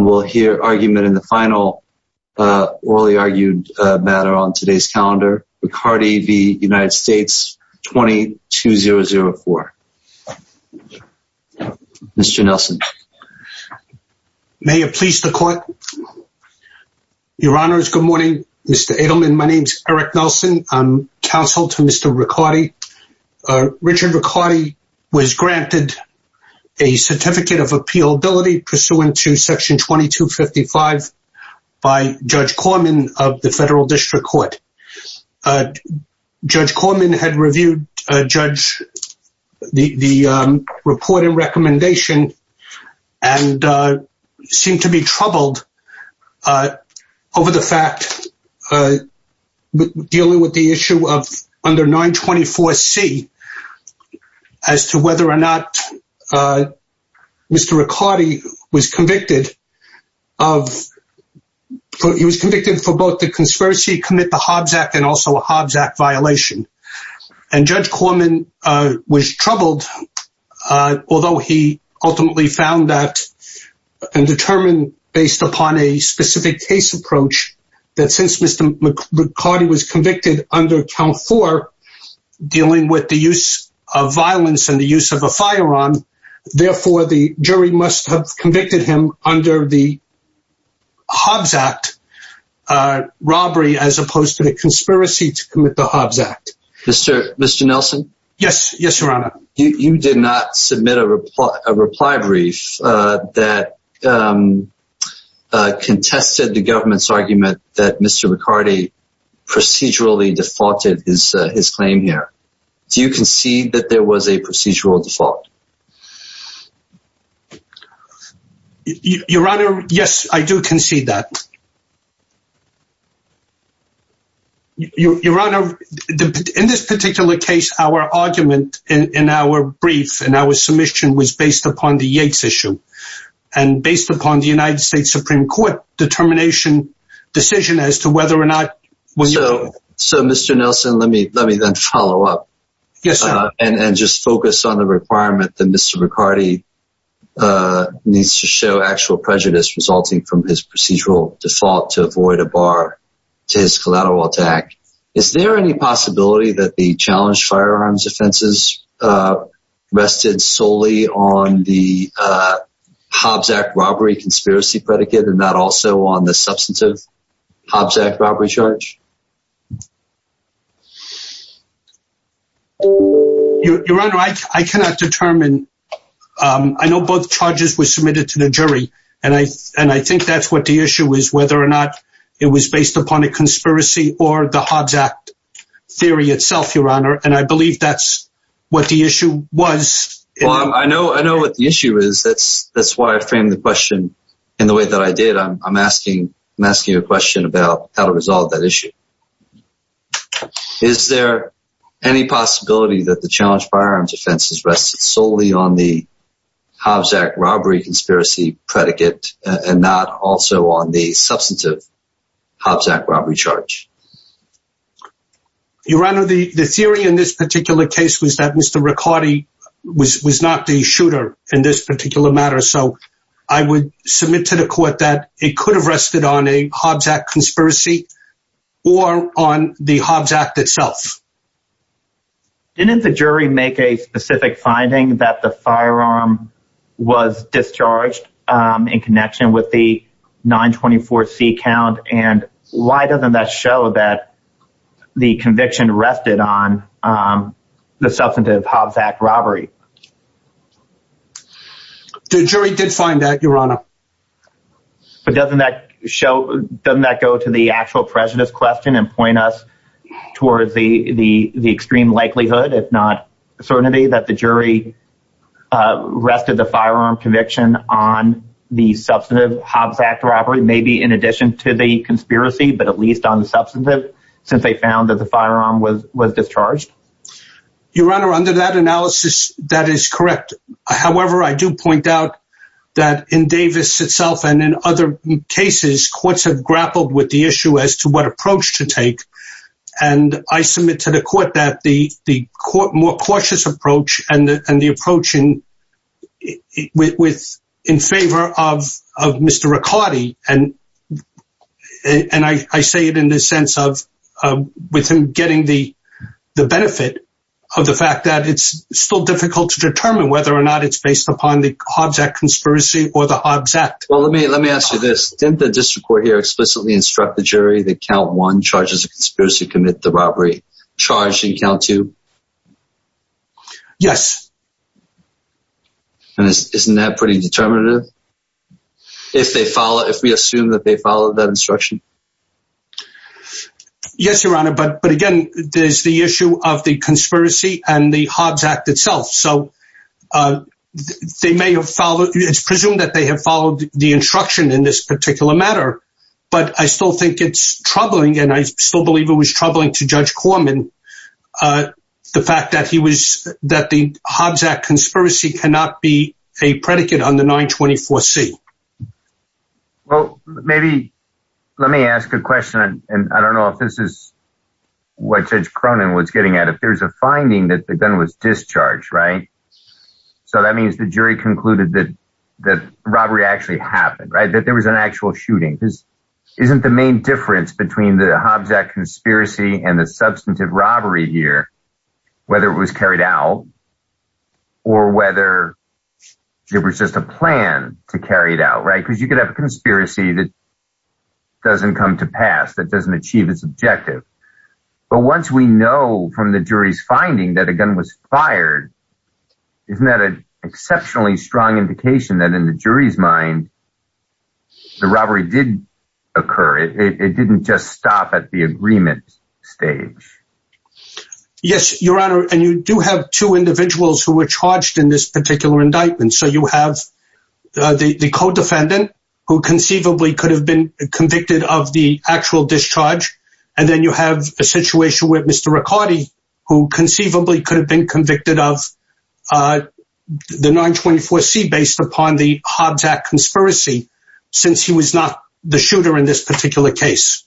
and we'll hear argument in the final orally argued matter on today's calendar, Riccardi v. United States 22004. Mr. Nelson. May it please the court. Your honors, good morning. Mr. Edelman, my name's Eric Nelson. I'm counsel to Mr. Riccardi. Richard Riccardi was granted a certificate of appealability pursuant to section 2255 by Judge Corman of the Federal District Court. Judge Corman had reviewed the report and recommendation and seemed to be troubled over the fact dealing with the issue of under 924C as to whether or not Mr. Riccardi was convicted of, he was convicted for both the conspiracy to commit the Hobbs Act and also a Hobbs Act violation. And Judge Corman was troubled, although he ultimately found that and determined based upon a specific case approach that since Mr. Riccardi was convicted under count for dealing with the use of violence and the use of a firearm, therefore the jury must have convicted him under the Hobbs Act robbery as opposed to the conspiracy to commit the Hobbs Act. Mr. Mr. Nelson. Yes. Yes, that contested the government's argument that Mr. Riccardi procedurally defaulted his claim here. Do you concede that there was a procedural default? Your Honor, yes, I do concede that. Your Honor, in this particular case, our argument in our brief and our submission was based upon the Yates issue and based upon the United States Supreme Court determination decision as to whether or not. So, Mr. Nelson, let me let me then follow up. Yes. And just focus on the requirement that Mr. Riccardi needs to show actual prejudice resulting from his procedural default to avoid a bar to his firearms offenses rested solely on the Hobbs Act robbery conspiracy predicate and that also on the substantive Hobbs Act robbery charge? Your Honor, I cannot determine. I know both charges were submitted to the jury and I and I think that's what the issue is, whether or not it was based upon a conspiracy or the Hobbs Act theory itself, Your Honor. And I believe that's what the issue was. Well, I know, I know what the issue is. That's, that's why I framed the question in the way that I did. I'm asking, I'm asking a question about how to resolve that issue. Is there any possibility that the challenge firearms offenses rested solely on the Hobbs Act robbery conspiracy predicate and not also on the substantive Hobbs Act robbery charge? Your Honor, the, the theory in this particular case was that Mr. Riccardi was, was not the shooter in this particular matter. So I would submit to the court that it could have rested on a Hobbs Act conspiracy or on the Hobbs Act itself. Didn't the jury make a specific finding that the firearm was discharged in connection with the 924 C count? And why doesn't that show that the conviction rested on the substantive Hobbs Act robbery? The jury did find that, Your Honor. But doesn't that show, doesn't that go to the actual prejudice question and point us towards the, the, the extreme likelihood, if not certainty, that the jury rested the firearm conviction on the substantive Hobbs Act robbery, maybe in addition to the conspiracy, but at least on the substantive, since they found that the firearm was, was discharged? Your Honor, under that analysis, that is correct. However, I do point out that in Davis itself and in other cases, courts have grappled with the issue as to what approach to take. And I submit to the court that the, the court more cautious approach and the, and the approach in, with, with in favor of, of Mr. Riccardi. And, and I say it in the sense of, with him getting the, the benefit of the fact that it's still difficult to determine whether or not it's based upon the Hobbs Act conspiracy or the Hobbs Act. Well, let me, let me ask you this. Didn't the district court here explicitly instruct the jury that count one charges a conspiracy to commit the robbery charge in count two? Yes. And isn't that pretty determinative? If they follow, if we assume that they followed that instruction? Yes, Your Honor. But, but again, there's the it's presumed that they have followed the instruction in this particular matter, but I still think it's troubling. And I still believe it was troubling to Judge Corman. The fact that he was, that the Hobbs Act conspiracy cannot be a predicate on the 924C. Well, maybe, let me ask a question. And I don't know if this is what Judge Cronin was getting at. If there's a finding that the gun was discharged, right? So that means the jury concluded that, that robbery actually happened, right? That there was an actual shooting. This isn't the main difference between the Hobbs Act conspiracy and the substantive robbery here, whether it was carried out or whether it was just a plan to carry it out, right? Because you could have a conspiracy that doesn't come to pass, that doesn't achieve its objective. But once we know from the jury's finding that a gun was fired, isn't that an exceptionally strong indication that in the jury's mind, the robbery did occur. It didn't just stop at the agreement stage. Yes, Your Honor. And you do have two individuals who were charged in this particular indictment. So you have the co-defendant who conceivably could have been convicted of the actual discharge. And then you have a situation where Mr. Riccardi, who conceivably could have been convicted of the 924C based upon the Hobbs Act conspiracy, since he was not the shooter in this particular case.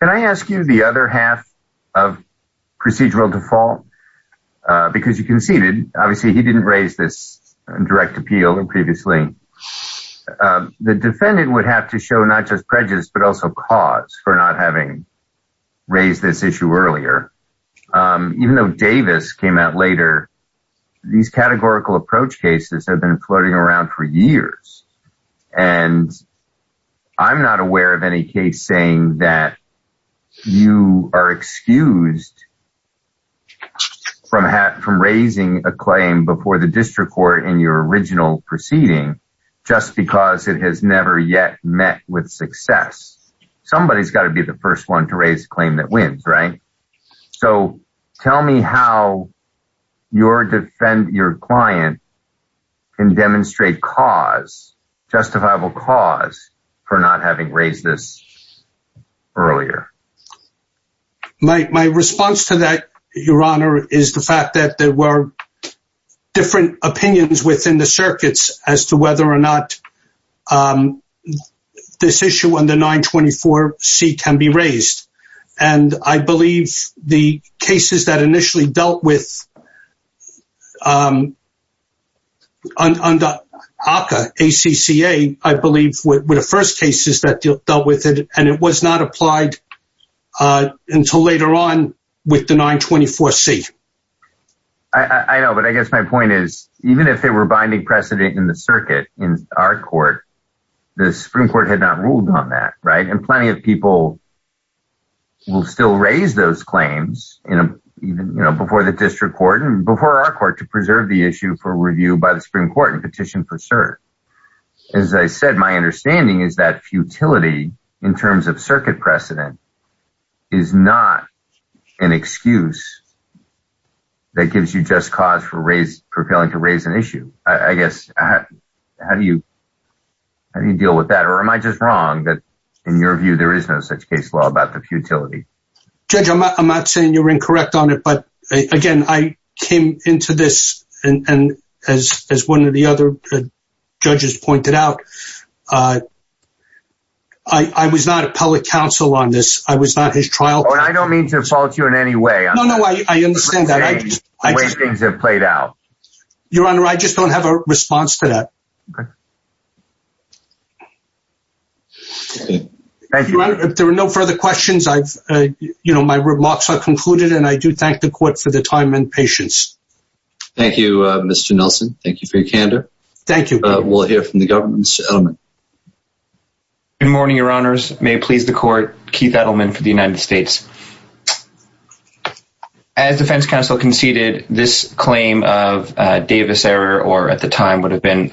Can I ask you the other half of procedural default? Because you conceded, obviously he didn't raise this direct appeal previously. The defendant would have to show not just These categorical approach cases have been floating around for years. And I'm not aware of any case saying that you are excused from raising a claim before the district court in your original proceeding, just because it has never yet met with success. Somebody's got to be the first one to raise a claim that wins, right? So tell me how your client can demonstrate cause, justifiable cause, for not having raised this earlier. My response to that, Your Honor, is the fact that there were different opinions within the circuits as to whether or not this issue on the 924C can be raised. And I believe the cases that initially dealt with ACCA, I believe were the first cases that dealt with it. And it was not applied until later on with the 924C. I know, but I guess my point is, even if they were binding precedent in the circuit, in our court, the Supreme Court had not ruled on that, right? And plenty of people will still raise those claims before the district court and before our court to preserve the issue for review by the Supreme Court and petition for cert. As I said, my understanding is that futility, in terms of circuit precedent, is not an excuse that gives you just cause for failing to raise an issue. I guess, how do you deal with that? Or am I just wrong that, in your view, there is no such case law about the futility? Judge, I'm not saying you're incorrect on it, but again, I came into this, and as one of the other judges pointed out, I was not a public counsel on this. I was not his trial court. I don't mean to fault you in any way. No, no, I understand that. The way things have played out. Your Honor, I just don't have a response to that. Okay. Thank you, Your Honor. If there are no further questions, I've, you know, my remarks are concluded and I do thank the court for the time and patience. Thank you, Mr. Nelson. Thank you for your candor. Thank you. We'll hear from the government. Mr. Edelman. Good morning, Your Honors. May it please the court, Keith Edelman for the United States. As defense counsel conceded, this claim of Davis error, or at the time would have been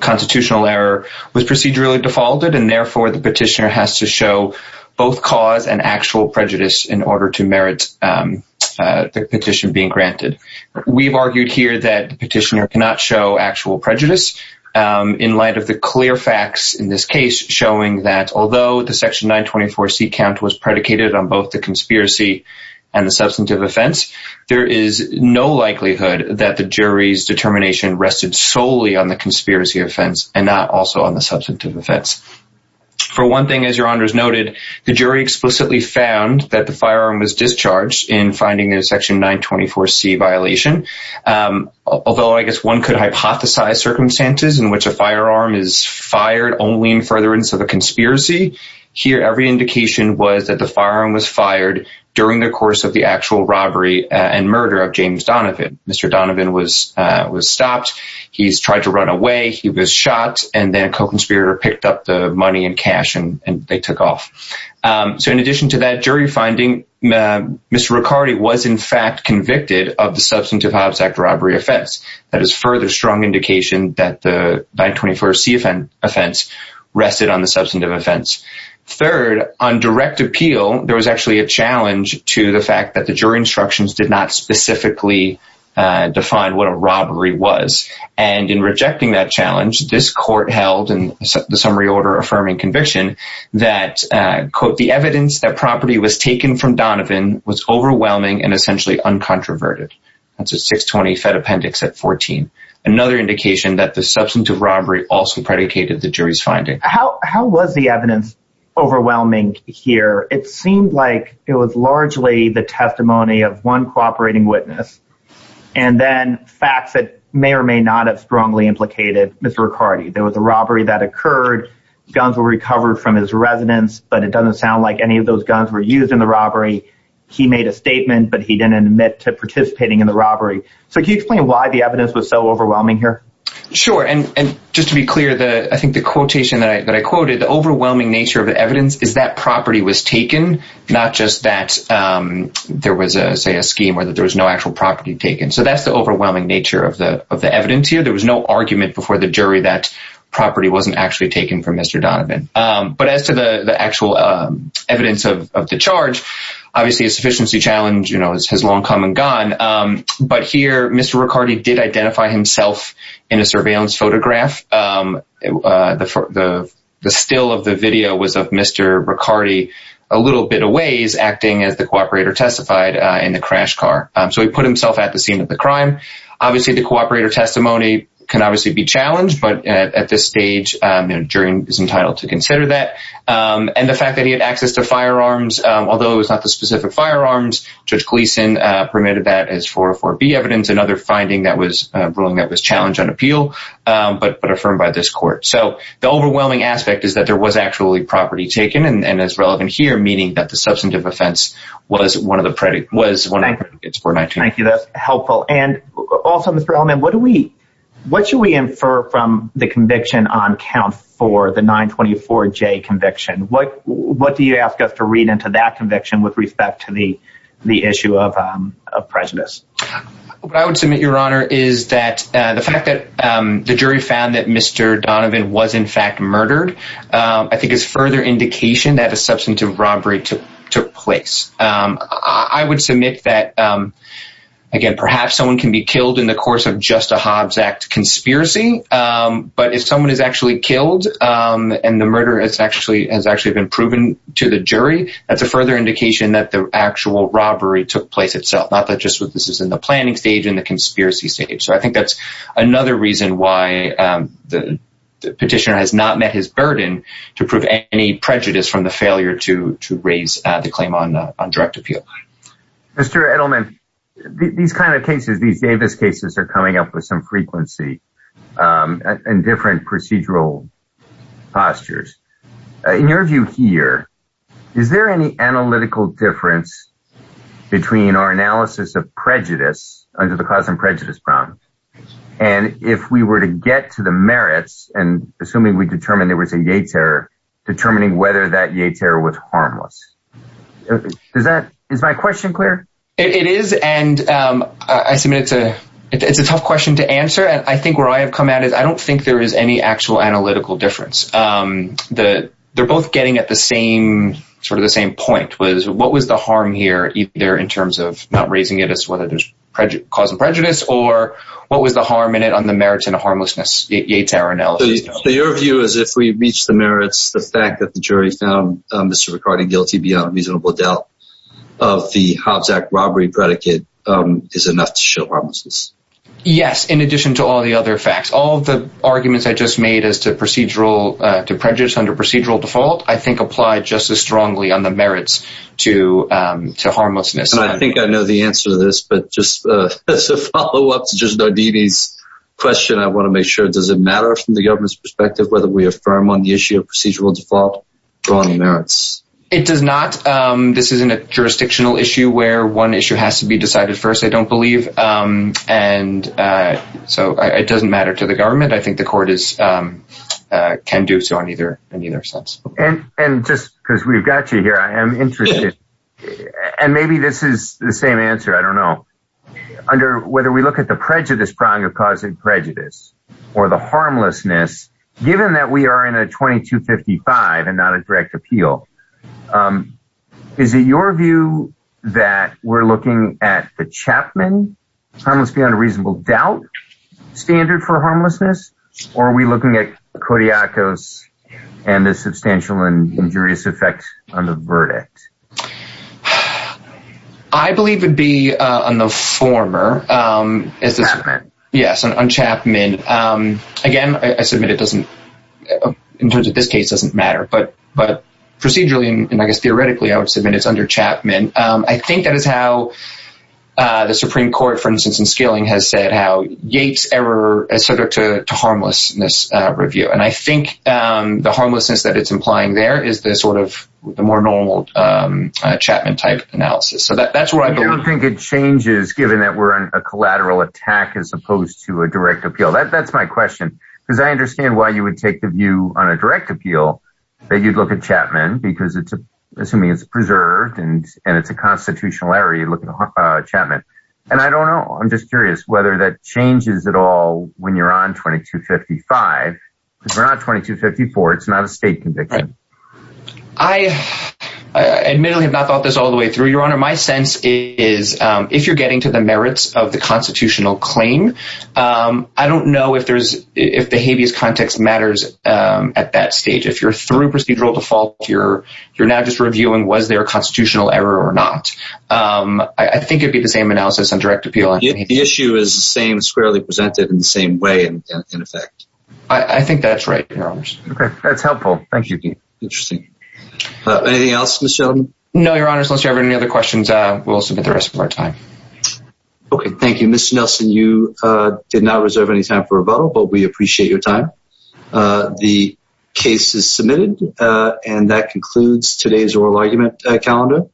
constitutional error, was procedurally defaulted, and therefore the petitioner has to show both cause and actual prejudice in order to merit the petition being granted. We've argued here that the petitioner cannot show actual prejudice in light of the clear facts in this case showing that although the section 924C count was predicated on both the conspiracy and the substantive offense, there is no likelihood that the jury's determination rested solely on the conspiracy offense and not also on the substantive offense. For one thing, as Your Honors noted, the jury explicitly found that the firearm was discharged in finding a section 924C violation. Although I guess one could hypothesize circumstances in which a firearm is fired only in furtherance of a conspiracy, here every indication was that the firearm was fired during the course of the actual robbery and murder of James Donovan. Mr. Donovan was stopped. He's tried to run away. He was shot. And then a co-conspirator picked up the money and cash and they took off. So in addition to that jury finding, Mr. Riccardi was in fact convicted of the Substantive Hobbs Act robbery offense. That is further strong indication that the 924C offense rested on the substantive offense. Third, on direct appeal, there was actually a challenge to the fact that the jury instructions did not specifically define what a robbery was. And in rejecting that challenge, this court held in the summary order affirming conviction that, quote, the evidence that property was taken from Donovan was overwhelming and essentially uncontroverted. That's a 620 Fed Appendix at 14. Another indication that the substantive robbery also predicated the jury's finding. How was the evidence overwhelming here? It seemed like it was largely the testimony of one cooperating witness and then facts that may or may not have strongly implicated Mr. Riccardi. There was a robbery that occurred. Guns were recovered from his residence, but it doesn't sound like any of those guns were used in the robbery. He made a statement, but he didn't admit to participating in the robbery. So can you explain why the evidence was so overwhelming here? Sure. And just to be clear, I think the quotation that I quoted, the overwhelming nature of the evidence is that property was taken, not just that there was, say, a scheme where there was no actual property taken. So that's the overwhelming nature of the evidence here. There was no argument before the jury that property wasn't actually taken from Mr. Donovan. But as to the actual evidence of the charge, obviously a sufficiency challenge has long come and gone. But here, Mr. Riccardi did identify himself in a surveillance photograph. The still of the video was of Mr. Riccardi a little bit a ways, acting as the cooperator testified in the crash car. So he put himself at the scene of the crime. Obviously, the cooperator testimony can obviously be challenged, but at this stage, the jury is entitled to consider that. And the fact that he had access to firearms, although it was not the specific firearms, Judge Gleason permitted that as 404B evidence, another ruling that was challenged on appeal, but affirmed by this court. So the overwhelming aspect is that there was actually property taken and is relevant here, meaning that the substantive offense was one of the predicates for 19. Thank you. That's helpful. And also, Mr. Elliman, what should we infer from the conviction on count for the 924J conviction? What do you ask us to read into that conviction with respect to the issue of prejudice? What I would submit, Your Honor, is that the fact that the jury found that Mr. Donovan was in fact murdered, I think is further indication that a substantive robbery took place. I would submit that, again, perhaps someone can be killed in the course of just a Hobbs Act conspiracy. But if someone is actually killed and the murder has actually been proven to the jury, that's a further indication that the actual robbery took place itself, not just what this is in the planning stage and the conspiracy stage. So I think that's another reason why the petitioner has not met his burden to prove any prejudice from the failure to raise the claim on direct appeal. Mr. Edelman, these kind of cases, these Davis cases are coming up with some frequency and different procedural postures. In your view here, is there any analytical difference between our analysis of prejudice under the cause and prejudice problem? And if we were to get to the merits and assuming we determine there was a Yates error, determining whether that Yates error was harmless. Is that is my question clear? It is. And I submit it's a it's a tough question to answer. And I think where I have come at is I don't think there is any actual analytical difference. They're both getting at the same sort of the same point was what was the harm here? Either in terms of not raising it as whether there's prejudice, cause and prejudice, or what was the harm in it on the merits and harmlessness? So your view is if we reach the merits, the fact that the jury found Mr. McCarty guilty beyond reasonable doubt of the Hobbs Act robbery predicate is enough to show harmlessness. Yes. In addition to all the other facts, all the arguments I just made as to procedural prejudice under procedural default, I think apply just as strongly on the merits to to harmlessness. And I think I know the answer to this, but just as a follow up to just Nardini's question, I want to make sure, does it matter from the government's perspective whether we affirm on the issue of procedural default on the merits? It does not. This isn't a jurisdictional issue where one issue has to be decided first. I don't believe. And so it doesn't matter to the government. I think the court is can do so on either in either sense. And and just because we've got you here, I am interested. And maybe this is the same answer. I don't know. Under whether we look at the prejudice prong of causing prejudice or the harmlessness, given that we are in a twenty two fifty five and not a direct appeal. Is it your view that we're looking at the Chapman? Let's be on a reasonable doubt standard for harmlessness. Or are we looking at Kodiakos and the substantial and injurious effect on the verdict? I believe would be on the former. Yes. And Chapman, again, I submit it doesn't in terms of this case doesn't matter. But but procedurally and I guess theoretically, I would submit it's under Chapman. And I think that is how the Supreme Court, for instance, in scaling has said how Yates error, et cetera, to harmlessness review. And I think the harmlessness that it's implying there is this sort of the more normal Chapman type analysis. So that's why I don't think it changes, given that we're on a collateral attack as opposed to a direct appeal. That's my question, because I understand why you would take the view on a direct appeal that you'd look at Chapman, because it's assuming it's preserved and it's a constitutional error. You look at Chapman and I don't know. I'm just curious whether that changes at all when you're on twenty to fifty five. We're not twenty to fifty four. It's not a state conviction. I admittedly have not thought this all the way through your honor. My sense is if you're getting to the merits of the constitutional claim, I don't know if there's if the habeas context matters at that stage. If you're through procedural default, you're you're now just reviewing. Was there a constitutional error or not? I think it'd be the same analysis and direct appeal. If the issue is the same squarely presented in the same way. And in effect, I think that's right. OK, that's helpful. Thank you. Interesting. Anything else? No, your honor. Unless you have any other questions, we'll submit the rest of our time. OK, thank you, Mr. Nelson. You did not reserve any time for a bottle, but we appreciate your time. The case is submitted and that concludes today's oral argument calendar.